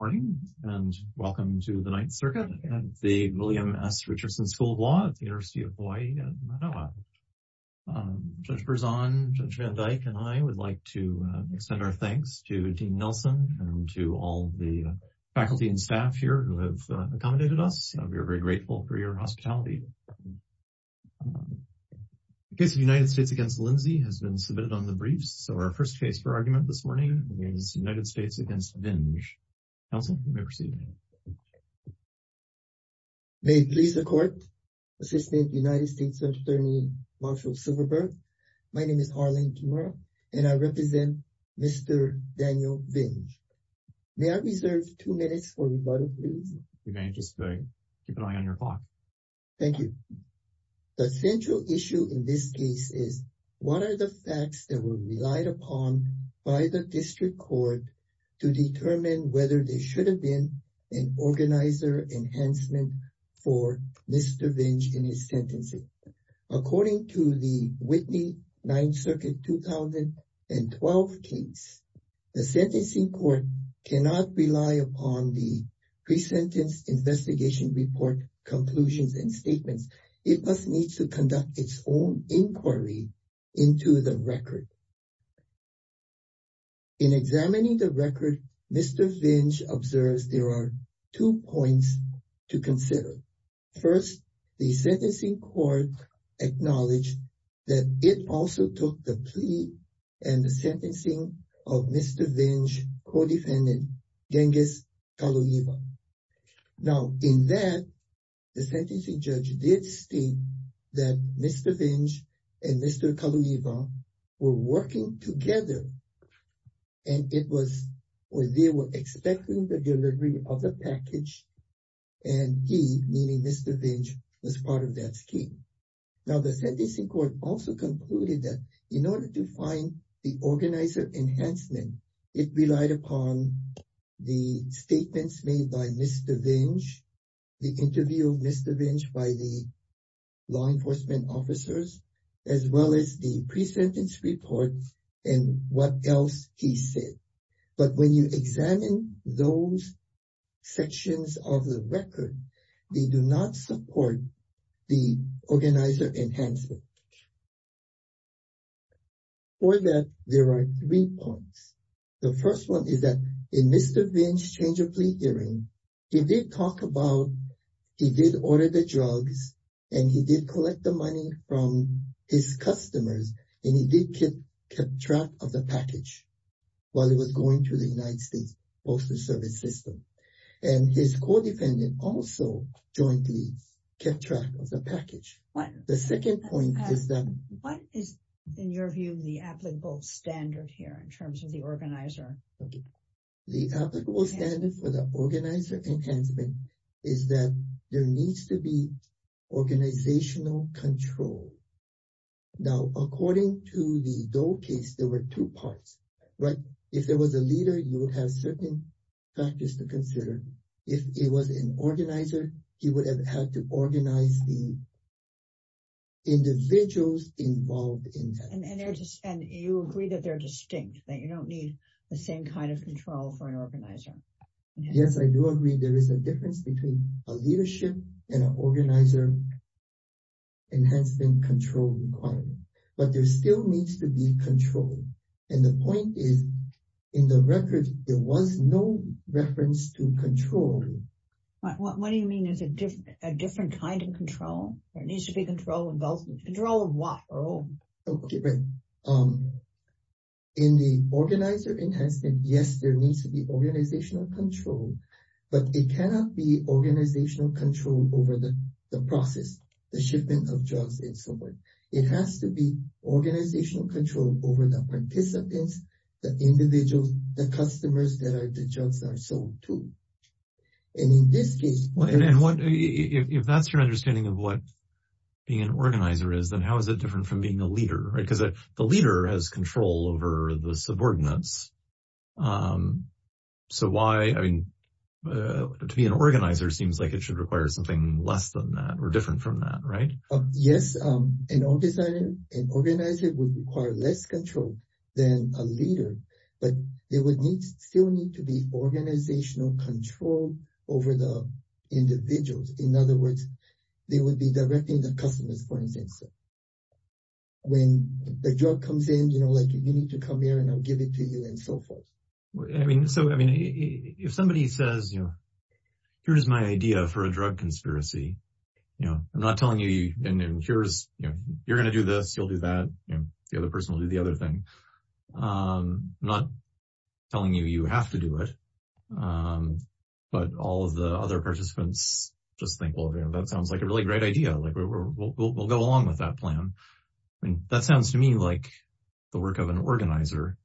Good morning and welcome to the Ninth Circuit at the William S. Richardson School of Law at the University of Hawaii at Manoa. Judge Berzon, Judge Van Dyke, and I would like to extend our thanks to Dean Nelson and to all the faculty and staff here who have accommodated us. We are very grateful for your hospitality. The case of the United States against Lindsay has been submitted on briefs. So our first case for argument this morning is United States against Vinge. Counsel, you may proceed. May it please the court, Assistant United States Attorney Marshal Silverberg. My name is Arlene Kimura and I represent Mr. Daniel Vinge. May I reserve two minutes for rebuttal, please? You may, just keep an eye on your clock. Thank you. The central issue in this case is what are the facts that were relied upon by the district court to determine whether there should have been an organizer enhancement for Mr. Vinge in his sentencing? According to the Whitney Ninth Circuit 2012 case, the sentencing court cannot rely upon the pre-sentence investigation report conclusions and statements. It must need to conduct its own inquiry into the record. In examining the record, Mr. Vinge observes there are two points to consider. First, the sentencing court acknowledged that it also took the plea and the sentencing of Mr. Vinge co-defendant, Genghis Kaloiva. Now, in that, the sentencing judge did state that Mr. Vinge and Mr. Kaloiva were working together and they were expecting the delivery of the package and he, meaning Mr. Vinge, was part of that scheme. Now, the sentencing court also concluded that in order to find the organizer enhancement, it relied upon the statements made by Mr. Vinge, the interview of Mr. Vinge by the law enforcement officers, as well as the pre-sentence report and what else he said. But when you examine those sections of the record, they do not support the organizer enhancement. For that, there are three points. The first one is that in Mr. Vinge's change of plea hearing, he did talk about, he did order the drugs and he did collect the money from his customers and he did keep track of the package while he was going through the United States Postal Service system and his co-defendant also jointly kept track of the package. The second point is that what is, in your view, the applicable standard here in terms of the organizer? The applicable standard for the organizer enhancement is that there needs to be organizational control. Now, according to the Dole case, there were two parts, right? If there was a leader, you would have certain factors to consider. If it was an organizer, he would have had to organize the individuals involved in that. And you agree that they're distinct, that you don't need the same kind of control for an organizer. Yes, I do agree there is a difference between a leadership and an organizer enhancement control requirement, but there still needs to be control. And the point is, in the record, there was no reference to control. What do you mean there's a different kind of control? There needs to be control of what? In the organizer enhancement, yes, there needs to be organizational control, but it cannot be organizational control over the process, the shipment of drugs and so on. It has to be organizational control over the participants, the individuals, the customers that the drugs are sold to. And in this case, if that's your understanding of what being an organizer is, then how is it different from being a leader, right? Because the leader has control over the subordinates. So why, I mean, to be an organizer seems like it should require something less than that or different from that, right? Yes, an organizer would require less control than a leader, but there would still need to be organizational control over the individuals. In other words, they would be directing the customers, for instance. When the drug comes in, you know, like you need to come here and I'll give it to you and so forth. I mean, so, I mean, if somebody says, you know, here's my idea for a drug conspiracy, you know, I'm not telling you, and here's, you know, you're going to do this, you'll do that, you know, the other person will do the other thing. I'm not telling you you have to do it, but all of the other participants just think, well, that sounds like a really great idea, like we'll go along with that plan. I mean, that sounds to me like the work of an organizer,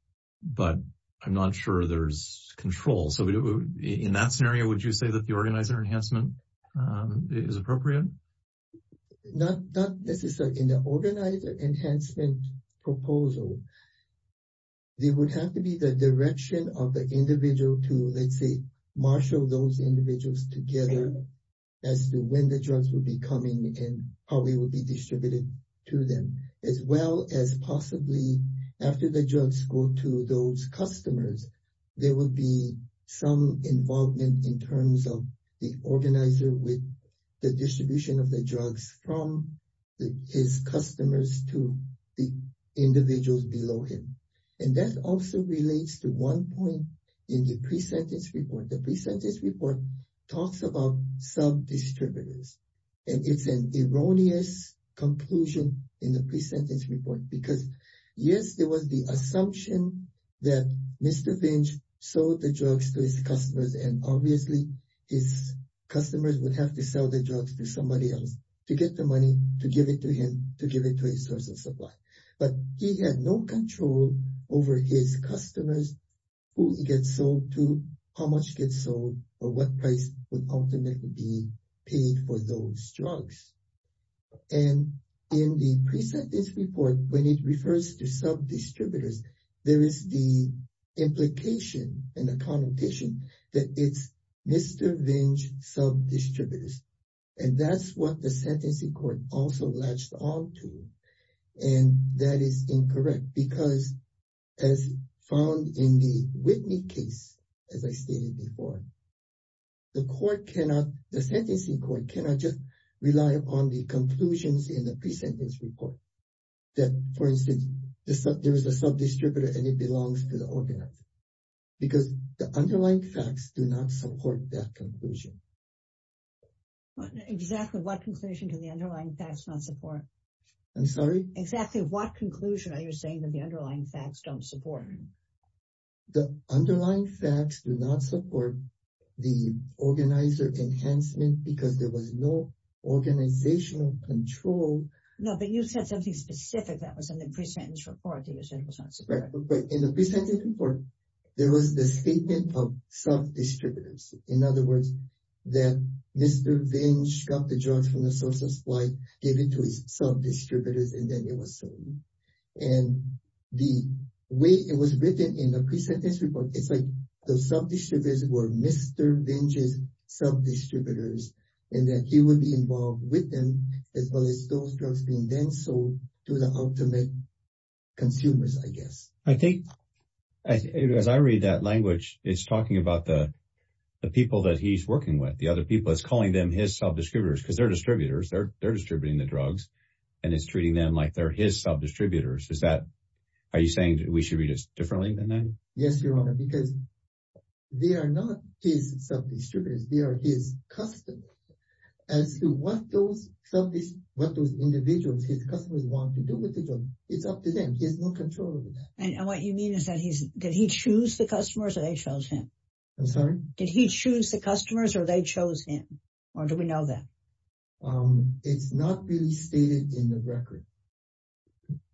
but I'm not sure there's control. So, in that scenario, would you say that the organizer enhancement is appropriate? Not necessarily. In the organizer enhancement proposal, there would have to be the direction of the individual to, let's say, marshal those individuals together as to when the drugs would be coming and how they would be distributed to them, as well as possibly after the drugs go to those customers, there would be some involvement in terms of the organizer with the distribution of the drugs from his customers to the individuals below him. And that also relates to one point in the pre-sentence report. The pre-sentence report talks about sub-distributors, and it's an erroneous conclusion in the pre-sentence report, because, yes, there was the assumption that Mr. Binge sold the drugs to his customers, and obviously his customers would have to sell the drugs to somebody else to get the money to give it to him, to give it to his source of supply. But he had no control over his customers, who he gets sold to, how much gets sold, or what price would ultimately be paid for those drugs. And in the pre-sentence report, when it refers to sub-distributors, there is the implication and the connotation that it's Mr. Binge sub-distributors. And that's what the sentencing court also latched on to. And that is incorrect, because as found in the Whitney case, as I stated before, the court cannot, the sentencing court cannot just rely on the conclusions in the pre-sentence report, that, for instance, there was a sub-distributor and it belongs to the organizer, because the underlying facts do not support that conclusion. Exactly what conclusion do the underlying facts not support? I'm sorry? Exactly what conclusion are you saying that the underlying facts don't support? The underlying facts do not support the organizer enhancement, because there was no organizational control. No, but you said something specific that was in the pre-sentence report that you said was not supported. Right, but in the pre-sentence report, there was the statement of sub-distributors. In other words, that Mr. Binge got the drugs from the source of supply, gave it to his sub-distributors, and then it was sold. And the way it was written in the pre-sentence report, it's like the sub-distributors were Mr. Binge's sub-distributors, and that he would be involved with them, as well as those drugs being then sold to the ultimate consumers, I guess. I think, as I read that language, it's talking about the people that he's working with, the other people. It's calling them his sub-distributors, because they're distributors. They're distributing the drugs, and it's treating them like they're his sub-distributors. Are you saying we should read it differently than that? Yes, Your Honor, because they are not his sub-distributors. They are his customers. As to what those individuals, his customers, want to do with the drugs, it's up to them. He has no control over that. What you mean is, did he choose the customers, or they chose him? I'm sorry? Did he choose the customers, or they chose him? Or do we know that? It's not really stated in the record.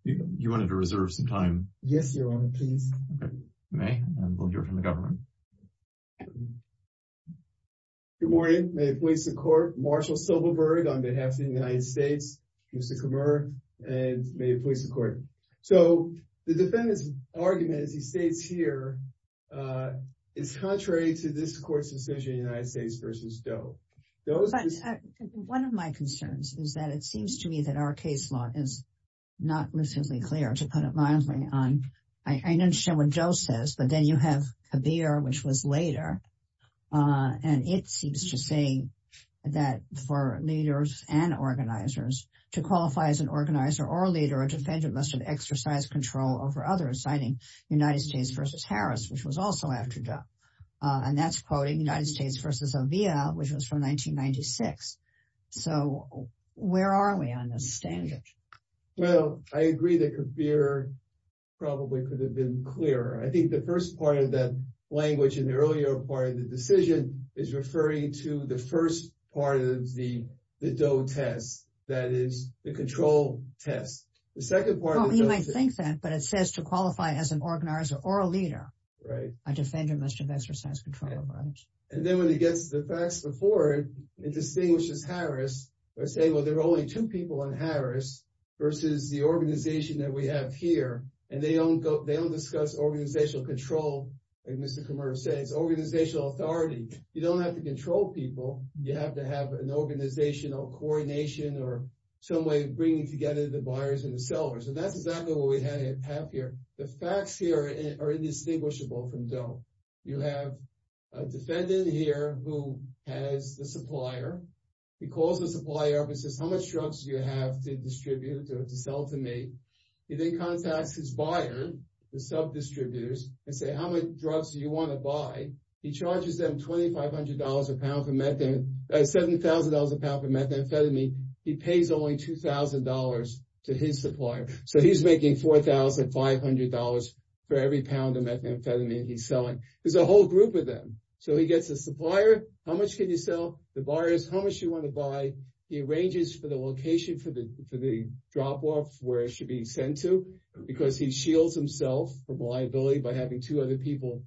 You wanted to reserve some time. Yes, Your Honor, please. You may. We'll hear from the government. Good morning. May it please the Court. Marshall Silverberg, on behalf of the United States, Mr. Comer, and may it please the Court. The defendant's argument, as he states here, is contrary to this Court's decision, United States v. Doe. One of my concerns is that it seems to me that our case law is not recently clear, to put it mildly. I understand what Doe says, but then you have Kabir, which was later, and it seems to say that for leaders and organizers, to qualify as an organizer or leader, a defendant must have exercised control over others, citing United States v. Harris, which was also after Doe. And that's quoting United States v. O'Vea, which was from 1996. So where are we on this standard? Well, I agree that Kabir probably could have been clearer. I think the first part of that language in the earlier part of the decision is referring to the first part of the Doe test, that is, the control test. The second part of the Doe test— Well, he might think that, but it says to qualify as an organizer or a leader. Right. A defendant must have exercised control over others. And then when he gets to the facts before it, it distinguishes Harris by saying, well, there are only two people in Harris versus the organization that we have here, and they don't discuss organizational control. And Mr. Kamara said it's organizational authority. You don't have to control people. You have to have an organizational coordination or some way of bringing together the buyers and the sellers. And that's exactly what we have here. The facts here are indistinguishable from Doe. You have a defendant here who has the supplier. He calls the supplier and says, how much drugs do you have to distribute or to sell to me? He then contacts his buyer, the sub-distributors, and says, how many drugs do you want to buy? He charges them $7,000 a pound for methamphetamine. He pays only $2,000 to his supplier. So he's making $4,500 for every pound of methamphetamine he's selling. There's a whole group of them. So he gets the supplier, how much can you sell? The buyers, how much do you want to buy? He arranges for the location for the drop-off, where it should be sent to, because he shields himself from liability by having two other people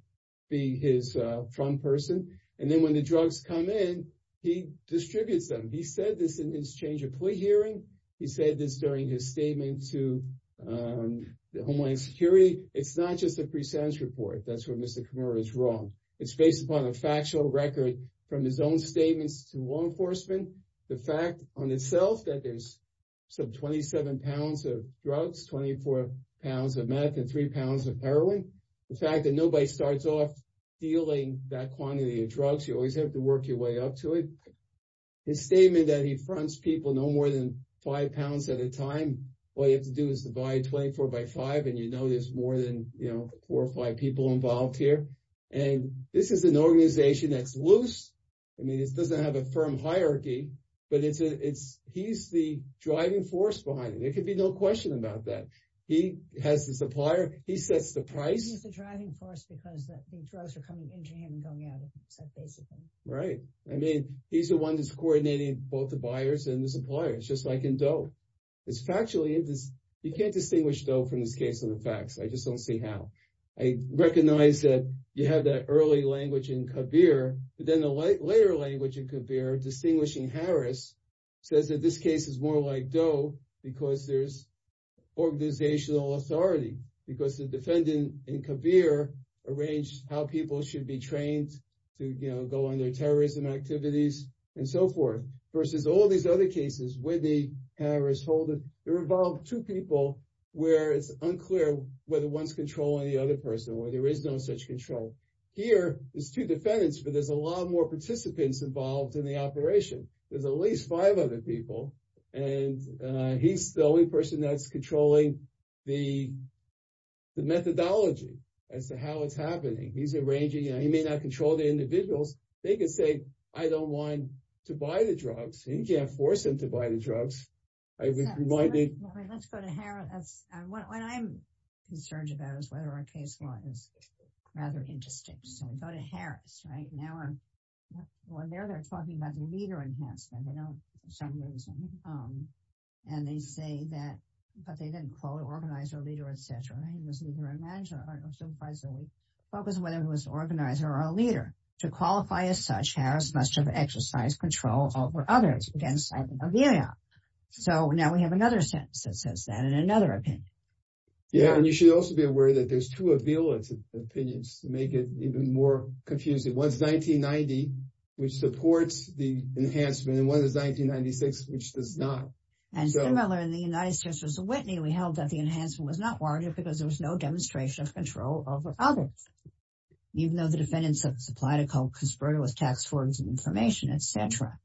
be his front person. And then when the drugs come in, he distributes them. He said this in his change of plea hearing. He said this during his statement to the Homeland Security. It's not just a pre-sense report. That's where Mr. Kamara is wrong. It's based upon a factual record from his own statements to law enforcement. The fact on itself that there's some 27 pounds of drugs, 24 pounds of meth, and three pounds of heroin. The fact that nobody starts off dealing that quantity of drugs. You always have to work your way up to it. His statement that he fronts people no more than five pounds at a time. All you have to do is divide 24 by five, and you know there's more than, you know, four or five people involved here. And this is an organization that's loose. I mean, it doesn't have a firm hierarchy, but he's the driving force behind it. There could be no question about that. He has the supplier. He sets the price. He's the driving force because the drugs are coming into him and going out of him, so basically. Right. I mean, he's the one that's coordinating both the buyers and the suppliers, just like in Doe. It's factually, you can't distinguish Doe from this case of the facts. I just don't see how. I recognize that you have that early language in Kabir, but then the later language in Kabir, distinguishing Harris, says that this case is more like Doe because there's organizational authority, because the defendant in Kabir arranged how people should be trained to, you know, go on their terrorism activities, and so forth, versus all these other cases where the Harris holder, there are about two people where it's unclear whether one's controlling the other person, or there is no such control. Here, there's two defendants, but there's a lot more participants involved in the operation. There's at least five other people, and he's the only person that's controlling the methodology as to how it's happening. He's arranging, and he may not control the individuals. They can say, I don't want to buy the drugs. He can't force him to buy the drugs. Let's go to Harris. That's what I'm concerned about, is whether our case law is rather interesting. So we go to Harris, right? Now, when they're talking about the leader enhancement, you know, for some reason, and they say that, but they didn't call it organizer, leader, etc. He was either a manager or supervisor. We focus on whether he was an organizer or a leader. To qualify as such, Harris must have exercised control over others. So now we have another sentence that says that, and another opinion. Yeah, and you should also be aware that there's two opinions to make it even more confusing. One's 1990, which supports the enhancement, and one is 1996, which does not. And similar in the United States versus Whitney, we held that the enhancement was not warranted because there was no demonstration of control over others, even though the defendants had supplied a conspirator with tax forms and information, etc.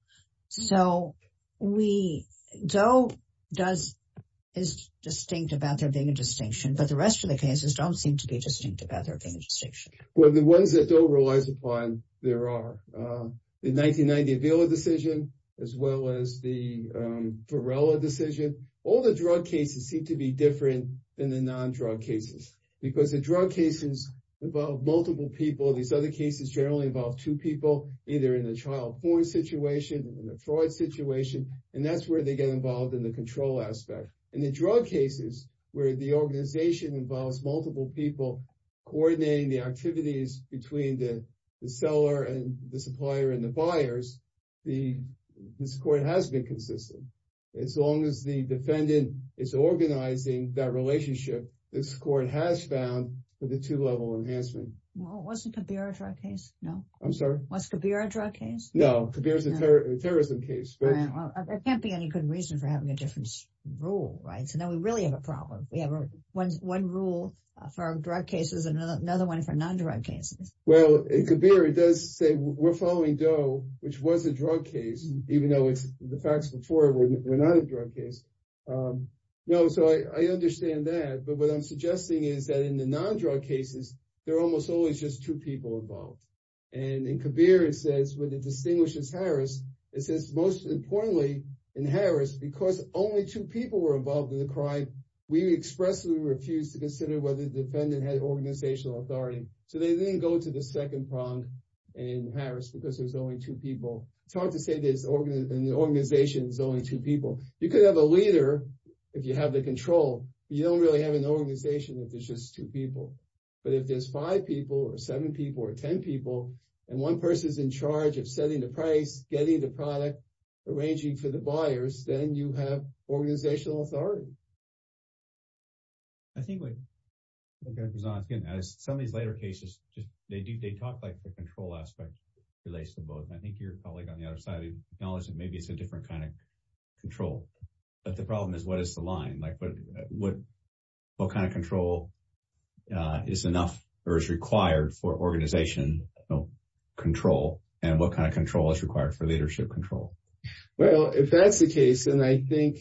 So we, Doe is distinct about there being a distinction, but the rest of the cases don't seem to be distinct about there being a distinction. Well, the ones that Doe relies upon, there are. The 1990 Avila decision, as well as the Varela decision, all the drug cases seem to be different than the non-drug cases, because the drug cases involve multiple people. These other cases generally involve two people, either in the trial form situation, in the fraud situation, and that's where they get involved in the control aspect. In the drug cases, where the organization involves multiple people coordinating the activities between the seller and the supplier and the buyers, the score has been consistent. As long as the defendant is organizing that relationship, the score has found for the two-level enhancement. Well, wasn't Kabir a drug case? No. I'm sorry? Was Kabir a drug case? No. Kabir is a terrorism case. Well, there can't be any good reason for having a different rule, right? So now we really have a problem. We have one rule for drug cases and another one for non-drug cases. Well, in Kabir, it does say we're following Doe, which was a drug case, even though the facts before were not a drug case. No, so I understand that, but what I'm suggesting is that in the non-drug cases, there are almost always just two people involved. And in Kabir, it says, when it distinguishes Harris, it says most importantly in Harris, because only two people were involved in the crime, we expressly refuse to consider whether the defendant had organizational authority. So they didn't go to the second prong in Harris because there's only two people. It's hard to say there's an organization that's only two people. You could have a leader if you have the control. You don't really have an organization if there's just two people. But if there's five people or seven people or 10 people, and one person's in charge of setting the price, getting the product, arranging for the buyers, then you have organizational authority. I think what Dr. Zonskin, as some of these later cases, they talk like the control aspect relates to both. And I think your colleague on the other side acknowledged that maybe it's a different kind of control. But the problem is, what is the line? What kind of control is enough or is required for organizational control? And what kind of I think,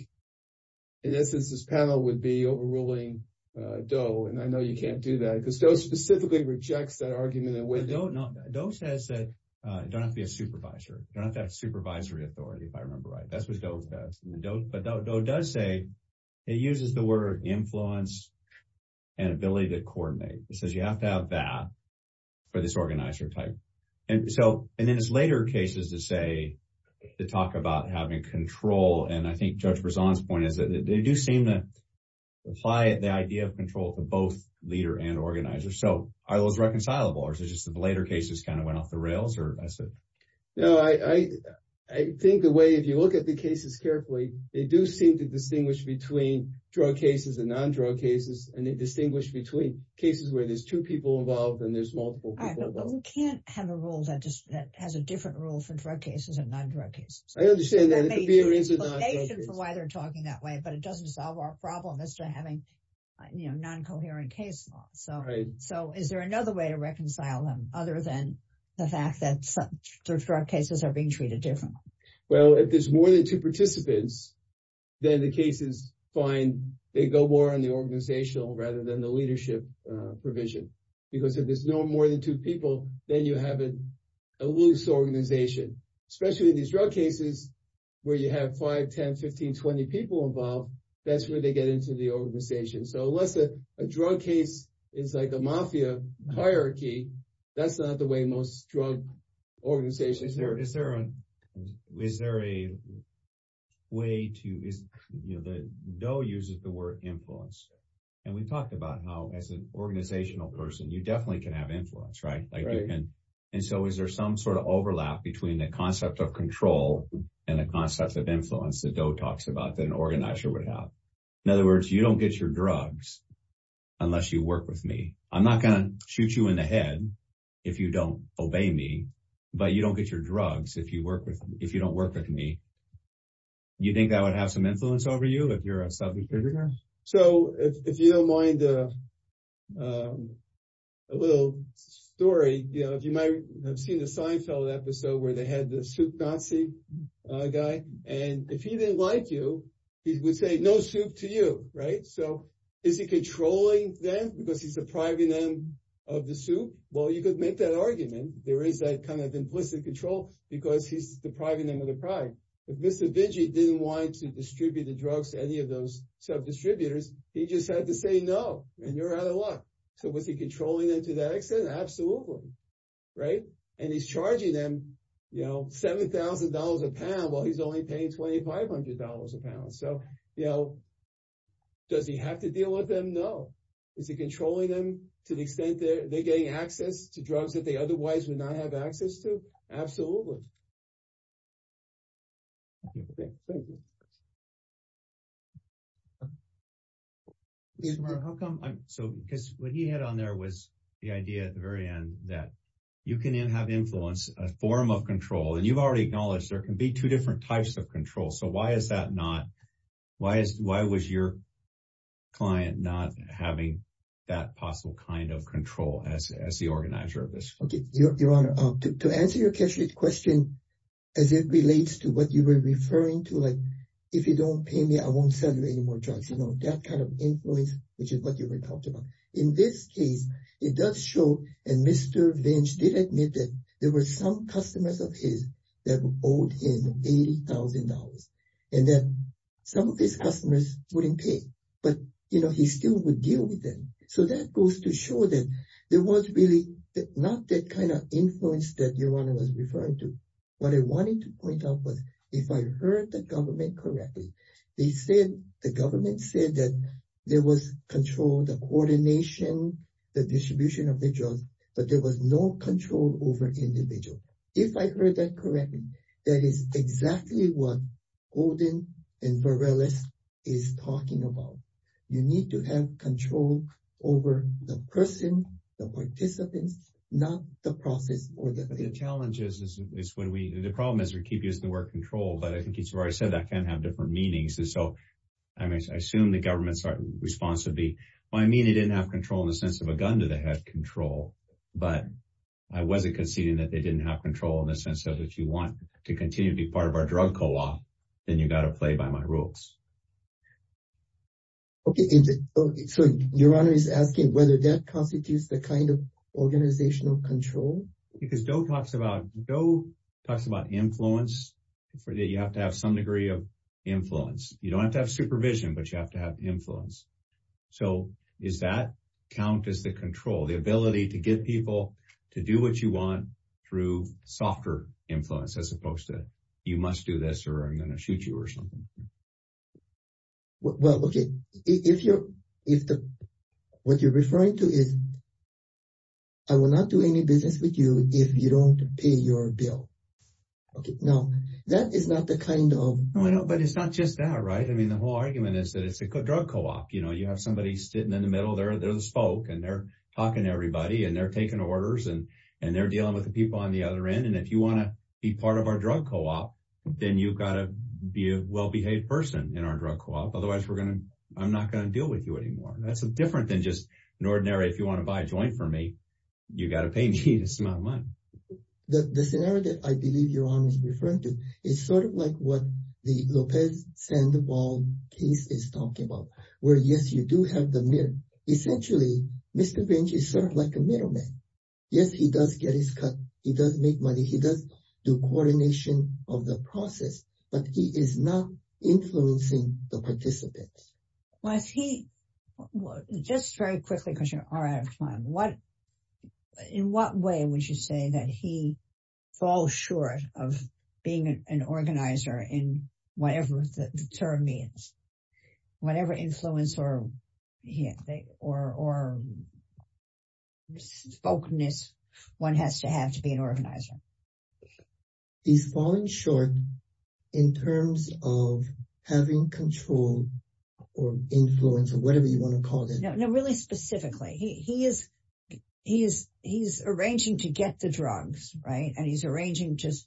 in essence, this panel would be overruling Doe. And I know you can't do that because Doe specifically rejects that argument. Doe says that you don't have to be a supervisor. You don't have to have supervisory authority, if I remember right. That's what Doe says. But Doe does say, he uses the word influence and ability to coordinate. He says you have to have that for this organizer type. And so, and then there's later cases that say, that talk about having control. And I think Judge Brisson's point is that they do seem to apply the idea of control to both leader and organizer. So, are those reconcilable? Or is it just that the later cases kind of went off the rails? No, I think the way, if you look at the cases carefully, they do seem to distinguish between drug cases and non-drug cases. And they distinguish between cases where there's two people involved and there's multiple people involved. But we can't have a rule that has a different rule for drug cases and non-drug cases. I understand that. It could be a reason why they're talking that way, but it doesn't solve our problem as to having non-coherent case law. So, is there another way to reconcile them, other than the fact that some drug cases are being treated differently? Well, if there's more than two participants, then the cases find they go more on the organizational rather than the leadership provision. Because if there's no more than two people, then you have a organization. Especially in these drug cases, where you have five, 10, 15, 20 people involved, that's where they get into the organization. So, unless a drug case is like a mafia hierarchy, that's not the way most drug organizations work. Is there a way to, you know, Doe uses the word influence. And we talked about how, as an organizational person, you definitely can have influence, right? And so, is there some sort of overlap between the concept of control and the concept of influence that Doe talks about that an organizer would have? In other words, you don't get your drugs unless you work with me. I'm not going to shoot you in the head if you don't obey me, but you don't get your drugs if you don't work with me. Do you think that would have some influence over you if you're a self-determiner? So, if you don't mind a little story, you know, you might have seen the Seinfeld episode where they had the soup Nazi guy. And if he didn't like you, he would say no soup to you, right? So, is he controlling them because he's depriving them of the soup? Well, you could make that argument. There is that kind of implicit control because he's depriving them of the pride. If Mr. Bingey didn't want to distribute the drugs to any of those sub-distributors, he just had to say no, and you're out of luck. So, was he controlling them to that extent? Absolutely, right? And he's charging them, you know, $7,000 a pound while he's only paying $2,500 a pound. So, you know, does he have to deal with them? No. Is he controlling them to the extent that they're getting access to drugs that they otherwise would not have access to? Absolutely. Thank you. So, because what he had on there was the idea at the very end that you can have influence, a form of control, and you've already acknowledged there can be two different types of control. So, why is that not? Why was your client not having that possible kind of question as it relates to what you were referring to, like, if you don't pay me, I won't sell you any more drugs? You know, that kind of influence, which is what you were talking about. In this case, it does show, and Mr. Bingey did admit that there were some customers of his that owed him $80,000, and that some of his customers wouldn't pay, but, you know, he still would deal with them. So, that goes to show that there was really not that kind of influence that you were referring to. What I wanted to point out was, if I heard the government correctly, they said, the government said that there was control, the coordination, the distribution of the drugs, but there was no control over individuals. If I heard that correctly, that is exactly what Golden and Varelis is talking about. You need to have control over the person, the participants, not the process. The challenge is when we, the problem is we keep using the word control, but I think it's where I said that can have different meanings. And so, I mean, I assume the government's response would be, well, I mean, they didn't have control in the sense of a gun to the head control, but I wasn't conceding that they didn't have control in the sense of if you want to continue to be part of our drug co-law, then you got to play by my rules. Okay. So, your honor is asking whether that constitutes the kind of organizational control? Because Doe talks about influence, you have to have some degree of influence. You don't have to have supervision, but you have to have influence. So, does that count as the control, the ability to get people to do what you want through softer influence, as opposed to you must this or I'm going to shoot you or something. Well, okay. If you're, if the, what you're referring to is I will not do any business with you if you don't pay your bill. Okay. Now that is not the kind of, no, I know, but it's not just that, right? I mean, the whole argument is that it's a good drug co-op. You know, you have somebody sitting in the middle there, there's folk and they're talking to everybody and they're taking orders and, and they're dealing with the on the other end. And if you want to be part of our drug co-op, then you've got to be a well-behaved person in our drug co-op. Otherwise we're going to, I'm not going to deal with you anymore. That's different than just an ordinary, if you want to buy a joint for me, you got to pay me this amount of money. The scenario that I believe your honor is referring to is sort of like what the Lopez Sandoval case is talking about, where yes, you do have the mirror. Essentially, Mr. Vinge is like a middleman. Yes, he does get his cut. He does make money. He does do coordination of the process, but he is not influencing the participants. Was he, just very quickly, because you are out of time, what, in what way would you say that he falls short of being an organizer in whatever the term means, whatever influence or, or, or spokenness one has to have to be an organizer? He's falling short in terms of having control or influence or whatever you want to call it. No, really specifically, he, he is, he is, he's arranging to get the drugs, right. And he's arranging just,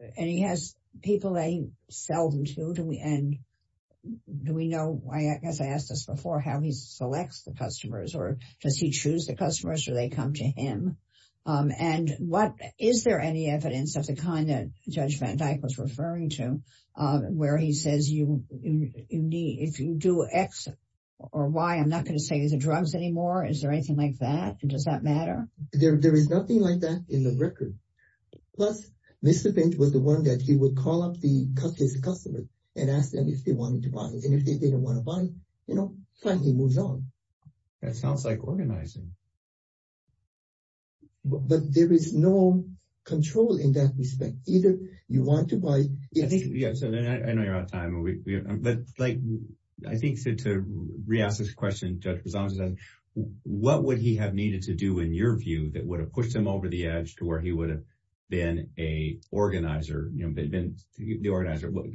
and he has people they sell them to. Do we, and do we know why, I guess I asked this before, how he selects the customers or does he choose the customers? Do they come to him? And what, is there any evidence of the kind that Judge Van Dyke was referring to where he says you, you need, if you do X or Y, I'm not going to say the drugs anymore. Is there anything like that? Does that matter? There, there is nothing like that in the record. Plus Mr. Vinge was the one that he would call up his customer and ask them if they wanted to buy it. And if they didn't want to buy, you know, finally moves on. That sounds like organizing. But there is no control in that respect. Either you want to buy it. I think, yeah. So then I know you're out of time, but like, I think to re-ask this question, Judge Rizzo, what would he have needed to do in your view that would have pushed him over the limit?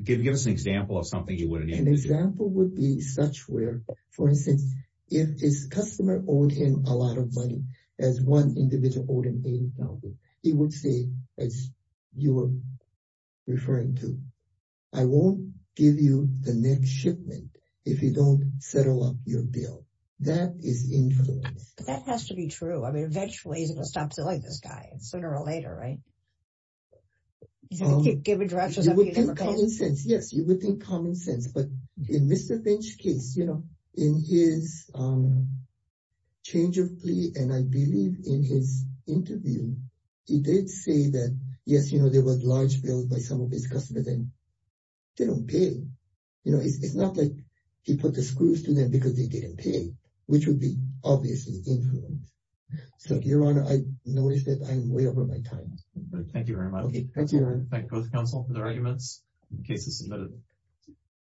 Give us an example of something he would have needed to do. An example would be such where, for instance, if his customer owed him a lot of money, as one individual owed him $80,000, he would say, as you were referring to, I won't give you the next shipment if you don't settle up your bill. That is infallible. That has to be true. I mean, eventually he's going to stop selling this guy sooner or later, right? You would think common sense. Yes, you would think common sense. But in Mr. Bench's case, in his change of plea, and I believe in his interview, he did say that, yes, you know, there was large bills by some of his customers and they don't pay. You know, it's not like he put the screws to them because they didn't pay, which would be obviously influence. So, Your Honor, I noticed that I'm way over my time. Thank you very much. Thank you, Your Honor. Thank both counsel for their arguments. The case is submitted.